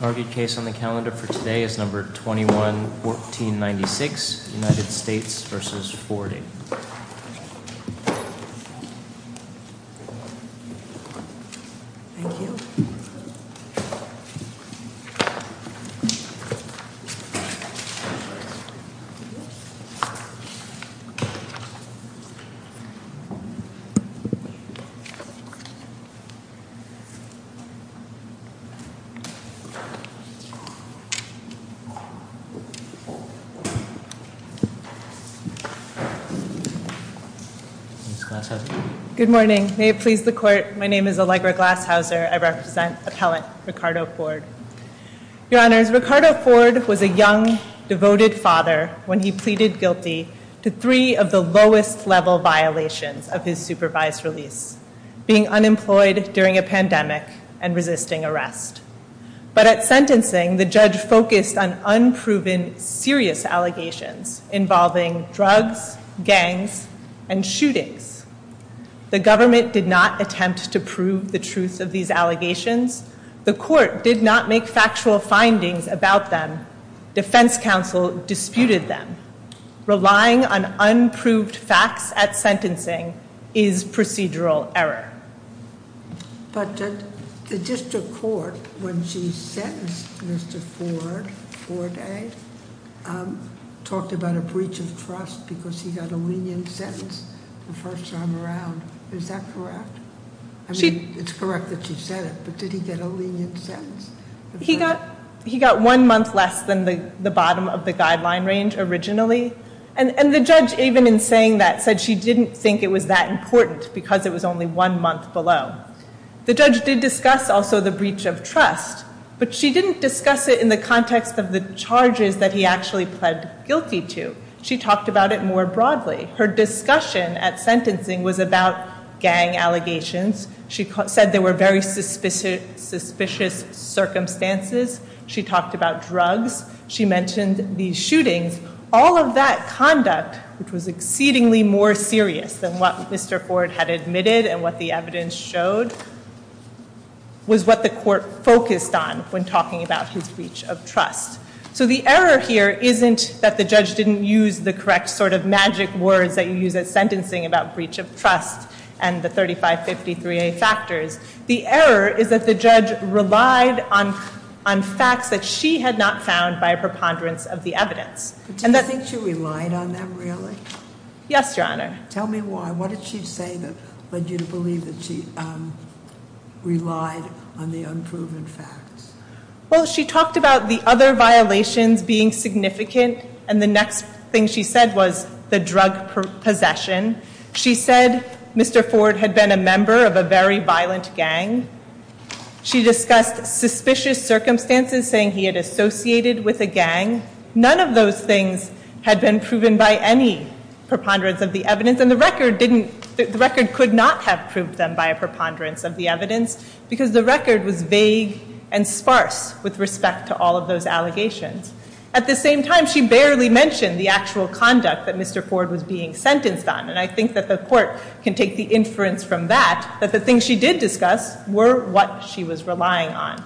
Oarguid case on the calendar for today is numbers 21-1496, United States v. Forde Good morning. May it please the court, my name is Allegra Glashauser. I represent appellate Ricardo Forde. Your Honors, Ricardo Forde was a young, devoted father when he pleaded guilty to three of the lowest level violations of his supervised release, being unemployed during a pandemic and resisting arrest. But at sentencing, the judge focused on unproven serious allegations involving drugs, gangs, and shootings. The government did not attempt to prove the truth of these allegations. The court did not make factual findings about them. Defense counsel disputed them. Relying on unproved facts at sentencing is procedural error. But the district court, when she sentenced Mr. Forde, talked about a breach of trust because he got a lenient sentence the first time around. Is that correct? I mean, it's correct that she said it, but did he get a lenient sentence? He got one month less than the bottom of the guideline range originally. And the judge, even in saying that, said she didn't think it was that important because it was only one month below. The judge did discuss also the breach of trust, but she didn't discuss it in the context of the charges that he actually pled guilty to. She talked about it more broadly. Her discussion at sentencing was about gang allegations. She said there were very suspicious circumstances. She talked about drugs. She mentioned the shootings. All of that conduct, which was exceedingly more serious than what Mr. Forde had admitted and what the evidence showed, was what the court focused on when talking about his breach of trust. So the error here isn't that the judge didn't use the correct sort of magic words that you use at sentencing about breach of trust and the 3553A factors. The error is that the judge relied on facts that she had not found by a preponderance of the evidence. Do you think she relied on them really? Yes, Your Honor. Tell me why. What did she say that led you to believe that she relied on the unproven facts? Well, she talked about the other violations being significant and the next thing she said was the drug possession. She said Mr. Forde had been a member of a very violent gang. She discussed suspicious circumstances, saying he had associated with a gang. None of those things had been proven by any preponderance of the evidence and the record could not have proved them by a preponderance of the evidence because the record was vague and sparse with respect to all of those allegations. At the same time, she barely mentioned the actual conduct that Mr. Forde was being sentenced on and I think that the court can take the inference from that that the things she did discuss were what she was relying on.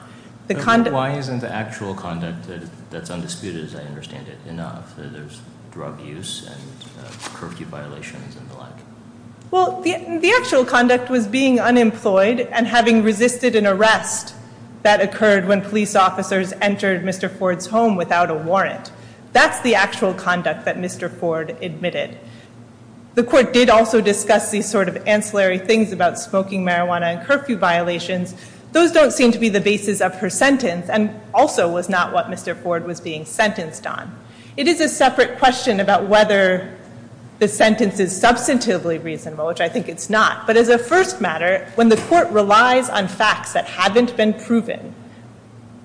Why isn't the actual conduct that's undisputed, as I understand it, enough? There's drug use and curfew violations and the like. Well, the actual conduct was being unemployed and having resisted an arrest that occurred when police officers entered Mr. Forde's home without a warrant. That's the actual conduct that Mr. Forde admitted. The court did also discuss these sort of ancillary things about of her sentence and also was not what Mr. Forde was being sentenced on. It is a separate question about whether the sentence is substantively reasonable, which I think it's not. But as a first matter, when the court relies on facts that haven't been proven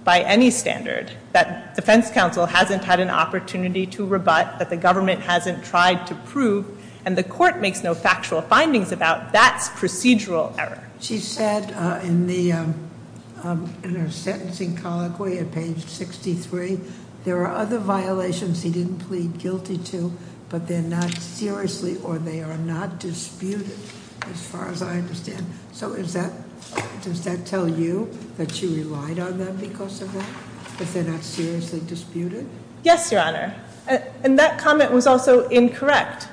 by any standard, that defense counsel hasn't had an opportunity to rebut, that the government hasn't tried to prove, and the court makes no factual findings about, that's procedural error. She said in her sentencing colloquy at page 63, there are other violations he didn't plead guilty to, but they're not seriously or they are not disputed, as far as I understand. So does that tell you that she relied on them because of that, that they're not seriously disputed? Yes, Your Honor. And that comment was also incorrect.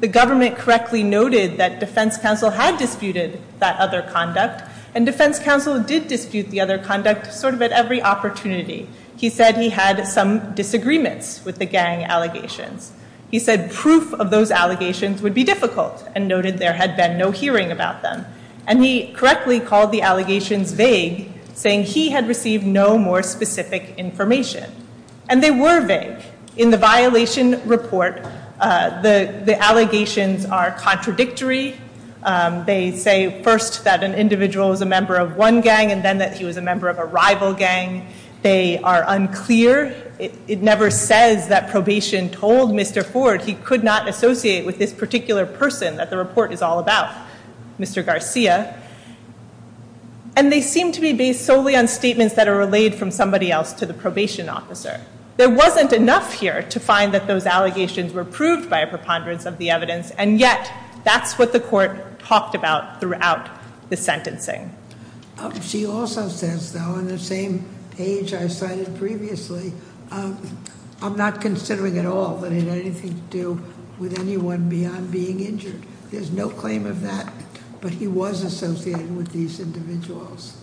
The government correctly noted that defense counsel had disputed that other conduct and defense counsel did dispute the other conduct sort of at every opportunity. He said he had some disagreements with the gang allegations. He said proof of those allegations would be difficult and noted there had been no hearing about them. And he correctly called the allegations vague, saying he had received no more specific information. And they were vague. In the violation report, the allegations are contradictory. They say first that an individual was a member of one gang and then that he was a member of a rival gang. They are unclear. It never says that probation told Mr. Ford he could not associate with this particular person that the report is all about, Mr. Garcia. And they seem to be based solely on statements that are relayed from somebody else to the probation officer. There wasn't enough here to find that those And yet, that's what the court talked about throughout the sentencing. She also says, though, on the same page I cited previously, I'm not considering at all that it had anything to do with anyone beyond being injured. There's no claim of that. But he was associated with these individuals.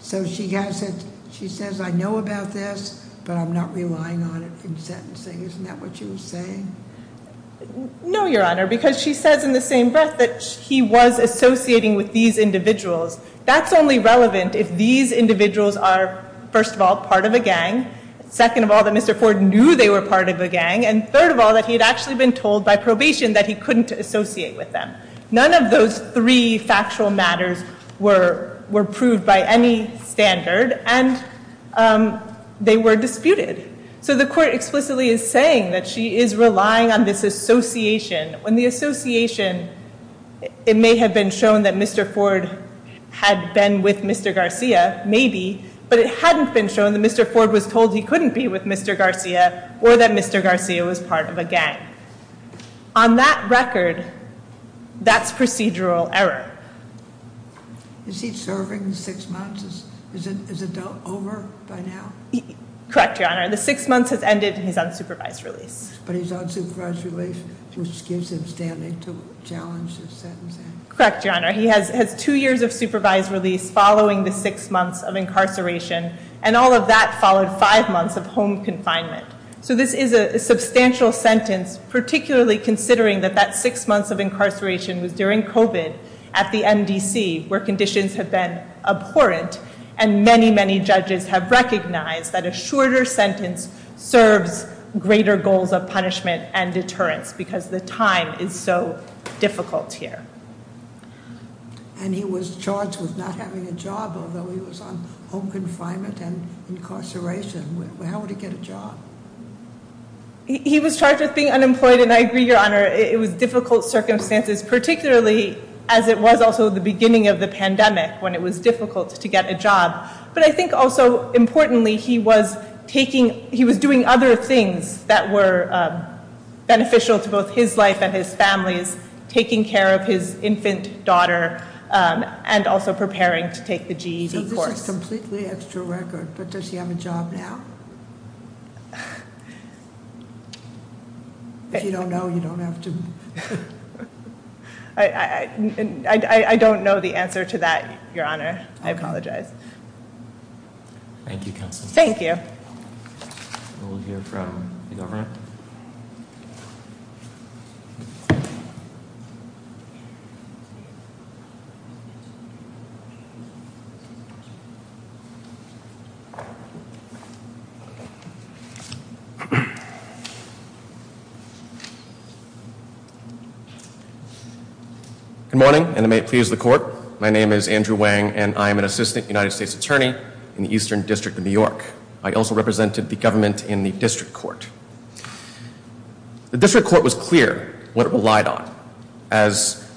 So she has it. She says, I know about this, but I'm not relying on it in sentencing. Isn't that what you were saying? No, Your Honor, because she says in the same breath that he was associating with these individuals. That's only relevant if these individuals are, first of all, part of a gang. Second of all, that Mr. Ford knew they were part of a gang. And third of all, that he had actually been told by probation that he couldn't associate with them. None of those three factual matters were proved by any standard. And they were disputed. So the court explicitly is saying that she is relying on this association. When the association, it may have been shown that Mr. Ford had been with Mr. Garcia, maybe, but it hadn't been shown that Mr. Ford was told he couldn't be with Mr. Garcia or that Mr. Garcia was part of a gang. On that record, that's procedural error. Is he serving six months? Is it over by now? Correct, Your Honor. The six months has ended. He's on supervised release. But he's on supervised release, which gives him standing to challenge the sentencing. Correct, Your Honor. He has two years of supervised release following the six months of incarceration. And all of that followed five months of home confinement. So this is a substantial sentence, particularly considering that that six months of incarceration was during COVID at the MDC, where conditions have been abhorrent. And many, many judges have recognized that a shorter sentence serves greater goals of punishment and deterrence because the time is so difficult here. And he was charged with not having a job, although he was on home confinement and incarceration. How would he get a job? He was charged with being unemployed. And I agree, Your Honor, it was difficult circumstances, particularly as it was also the beginning of the pandemic when it was difficult to get a job. I think also importantly, he was doing other things that were beneficial to both his life and his family's, taking care of his infant daughter and also preparing to take the GED course. This is completely extra record, but does he have a job now? If you don't know, you don't apologize. Thank you, counsel. Thank you. We'll hear from the government. Good morning, and may it please the court. My name is Andrew Wang, and I am an assistant United States attorney in the Eastern District of New York. I also represented the government in the As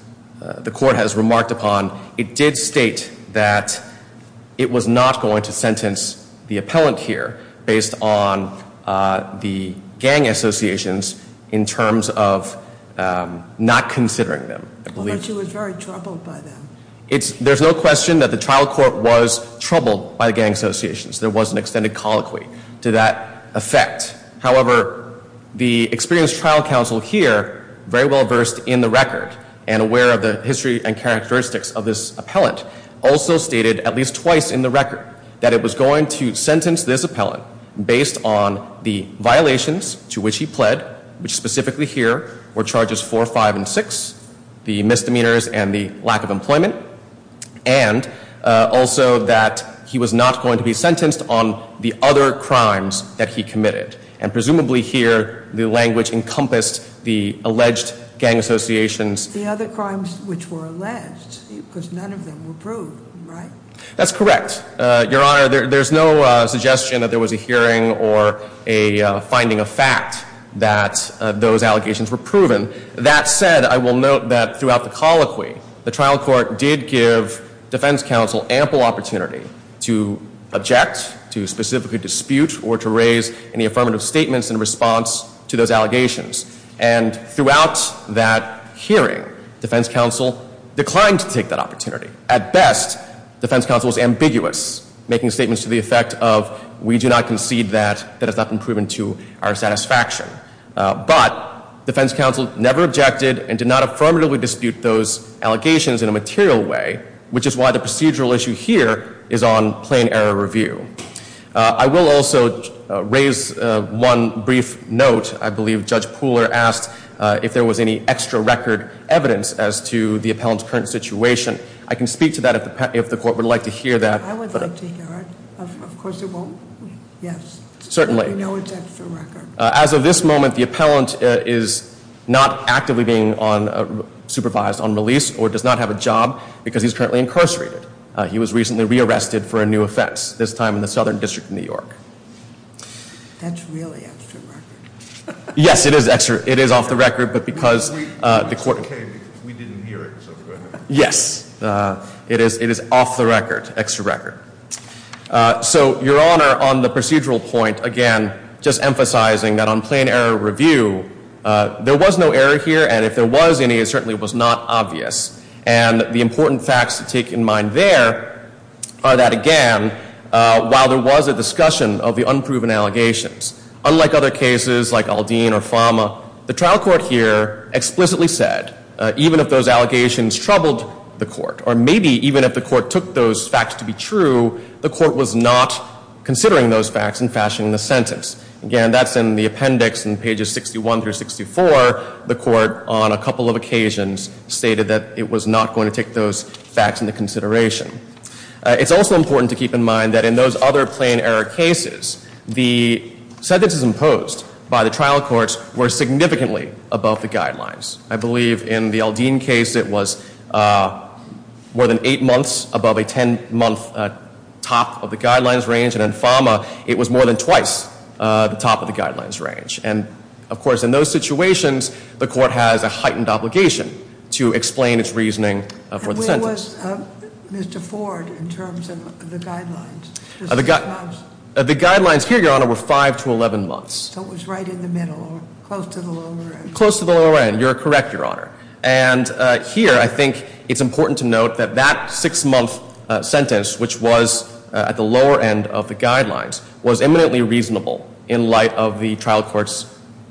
the court has remarked upon, it did state that it was not going to sentence the appellant here based on the gang associations in terms of not considering them. I thought you were very troubled by that. There's no question that the trial court was troubled by the gang associations. There was an extended colloquy to that effect. However, the experienced trial counsel here very well versed in the record and aware of the history and characteristics of this appellant also stated at least twice in the record that it was going to sentence this appellant based on the violations to which he pled, which specifically here were charges 4, 5, and 6, the misdemeanors and the lack of employment, and also that he was not going to be sentenced on the other crimes that he committed. And presumably here, the language encompassed the alleged gang associations. The other crimes which were alleged, because none of them were proved, right? That's correct. Your Honor, there's no suggestion that there was a hearing or a finding of fact that those allegations were proven. That said, I will note that throughout the colloquy, the trial court did give defense counsel ample opportunity to object, to specifically dispute, or to raise any affirmative statements in response to those allegations. And throughout that hearing, defense counsel declined to take that opportunity. At best, defense counsel was ambiguous, making statements to the effect of, we do not concede that, that has not been proven to our satisfaction. But defense counsel never objected and did not affirmatively dispute those allegations in a material way, which is why the procedural issue here is on plain error review. I will also raise one brief note. I believe Judge Pooler asked if there was any extra record evidence as to the appellant's current situation. I can speak to that if the court would like to As of this moment, the appellant is not actively being on, supervised on release or does not have a job because he's currently incarcerated. He was recently rearrested for a new offense, this time in the Southern District of New York. That's really extra record. Yes, it is extra, it is off the record, but because the court- We didn't hear it. Yes, it is, it is off the record, extra record. So, Your Honor, on the procedural point, again, just emphasizing that on plain error review, there was no error here and if there was any, it certainly was not obvious. And the important facts to take in mind there are that, again, while there was a discussion of the unproven allegations, unlike other cases like Aldine or Fama, the trial court here explicitly said, even if those allegations troubled the court or maybe even if the court took those facts to be true, the court was not considering those facts and fashioning the sentence. Again, that's in the appendix in pages 61 through 64. The court on a couple of occasions stated that it was not going to take those facts into consideration. It's also important to keep in mind that in those other plain error cases, the sentences imposed by the trial courts were significantly above the guidelines. In Aldine case, it was more than eight months above a 10-month top of the guidelines range, and in Fama, it was more than twice the top of the guidelines range. And, of course, in those situations, the court has a heightened obligation to explain its reasoning for the sentence. And where was Mr. Ford in terms of the guidelines? The guidelines here, Your Honor, were five to 11 months. So it was right in the middle, close to the lower end. Close to the lower end, you're correct, Your Honor. And here I think it's important to note that that six-month sentence, which was at the lower end of the guidelines, was eminently reasonable in light of the trial court's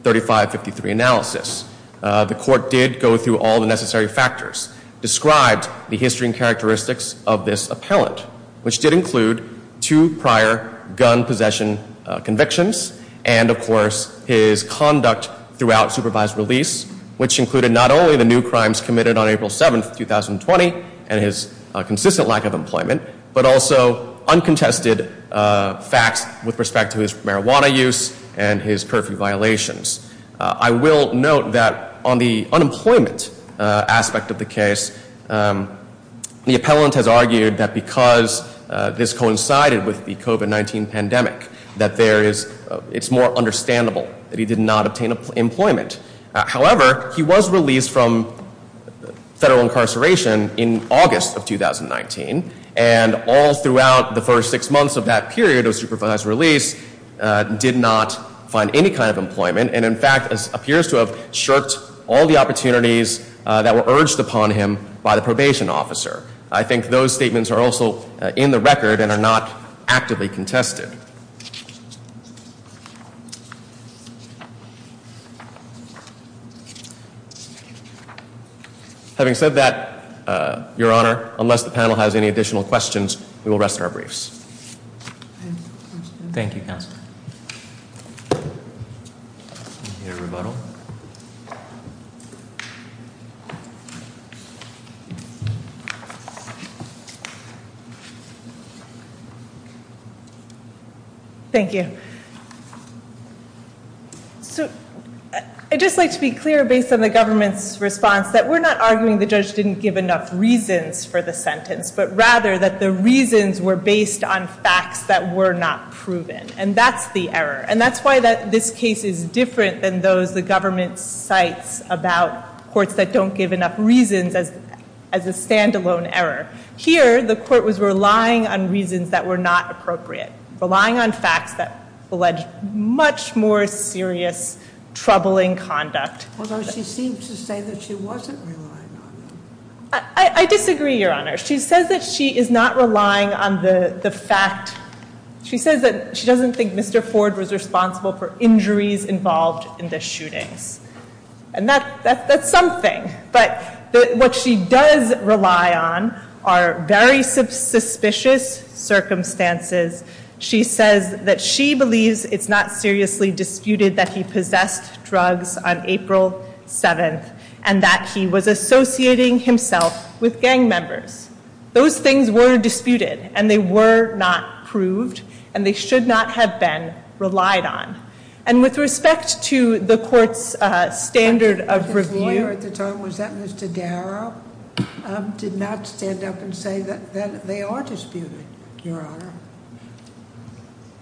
3553 analysis. The court did go through all the necessary factors, described the history and characteristics of this appellant, which did throughout supervised release, which included not only the new crimes committed on April 7, 2020, and his consistent lack of employment, but also uncontested facts with respect to his marijuana use and his perfidy violations. I will note that on the unemployment aspect of the case, the appellant has argued that because this coincided with the COVID-19 pandemic, that there is, it's more understandable that he did not obtain employment. However, he was released from federal incarceration in August of 2019. And all throughout the first six months of that period of supervised release, did not find any kind of employment. And in fact, appears to have shirked all the opportunities that were urged upon him by the probation officer. I think those are the two things that are contested. Having said that, your honor, unless the panel has any additional questions, we will rest our briefs. Thank you, counselor. Thank you. So I'd just like to be clear, based on the government's response, that we're not arguing the judge didn't give enough reasons for the sentence, but rather that the reasons were based on facts that were not proven. And that's the error. And that's why this case is different than those the government cites about courts that don't give enough reasons as a standalone error. Here, the court was relying on reasons that were not appropriate, relying on facts that alleged much more serious troubling conduct. Although she seemed to say that she wasn't relying on them. I disagree, your honor. She says that she is not relying on the fact, she says that she doesn't think Mr. Ford was responsible for injuries involved in the shootings. And that's something. But what she does rely on are very suspicious circumstances. She says that she believes it's not seriously disputed that he possessed drugs on April 7th, and that he was associating himself with gang members. Those things were disputed, and they were not proved, and they should not have been relied on. And with respect to the court's standard of review, did not stand up and say that they are disputed, your honor.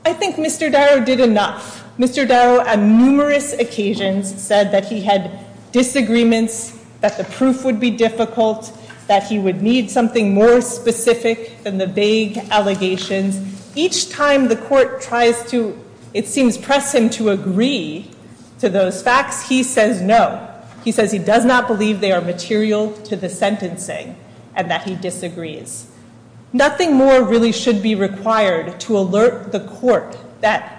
I think Mr. Darrow did enough. Mr. Darrow, on numerous occasions, said that he had disagreements, that the proof would be difficult, that he would need something more specific than the vague allegations. Each time the court tries to, it seems, press him to agree to those facts, he says no. He says he does not believe they are material to the sentencing, and that he disagrees. Nothing more really should be required to alert the court that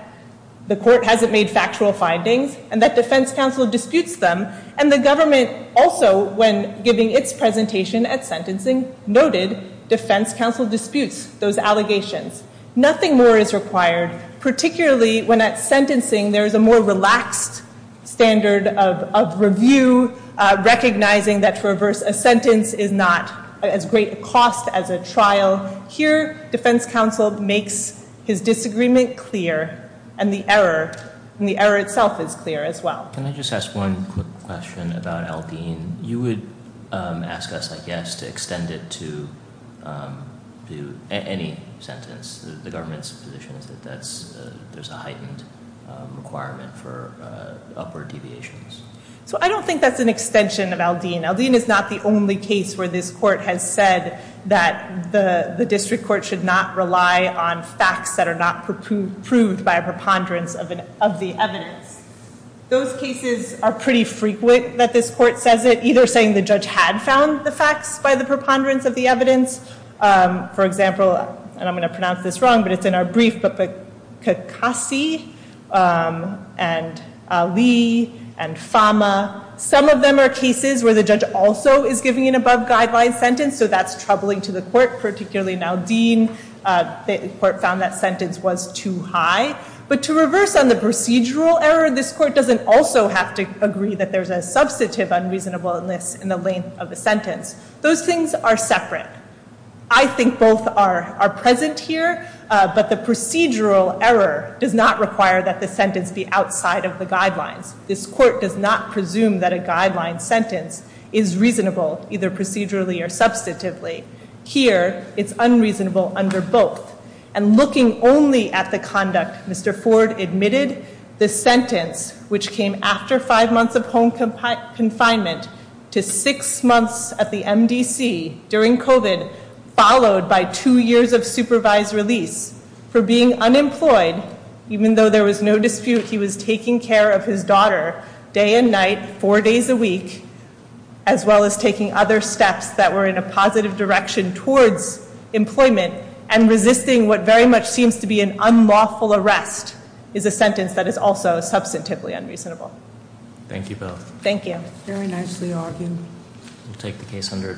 the court hasn't made factual findings, and that defense counsel disputes them. And the government also, when giving its presentation at sentencing, noted defense counsel disputes those allegations. Nothing more is required, particularly when at sentencing there is a more relaxed standard of review, recognizing that for a sentence is not as great a cost as a trial. Here, defense counsel makes his disagreement clear, and the error, and the error itself is clear as well. Can I just ask one quick question about to extend it to any sentence? The government's position is that there's a heightened requirement for upward deviations. So I don't think that's an extension of Aldean. Aldean is not the only case where this court has said that the district court should not rely on facts that are not proved by a preponderance of the evidence. Those cases are pretty frequent that this court says it, either saying the judge had found the facts by the preponderance of the evidence. For example, and I'm going to pronounce this wrong, but it's in our brief, but Kekasi and Ali and Fama, some of them are cases where the judge also is giving an above-guideline sentence. So that's troubling to the court, particularly in Aldean. The court found that sentence was too high. But to reverse on the procedural error, this court doesn't also have to agree that there's substantive unreasonableness in the length of the sentence. Those things are separate. I think both are present here, but the procedural error does not require that the sentence be outside of the guidelines. This court does not presume that a guideline sentence is reasonable, either procedurally or substantively. Here, it's unreasonable under both. And looking only at the conduct Mr. Ford admitted, the sentence, which came after five months of home confinement to six months at the MDC during COVID, followed by two years of supervised release for being unemployed, even though there was no dispute he was taking care of his daughter day and night, four days a week, as well as taking other steps that were in a positive direction towards employment and resisting what very much seems to be an unlawful arrest, is a sentence that is also substantively unreasonable. Thank you both. Thank you. Very nicely argued. We'll take the case under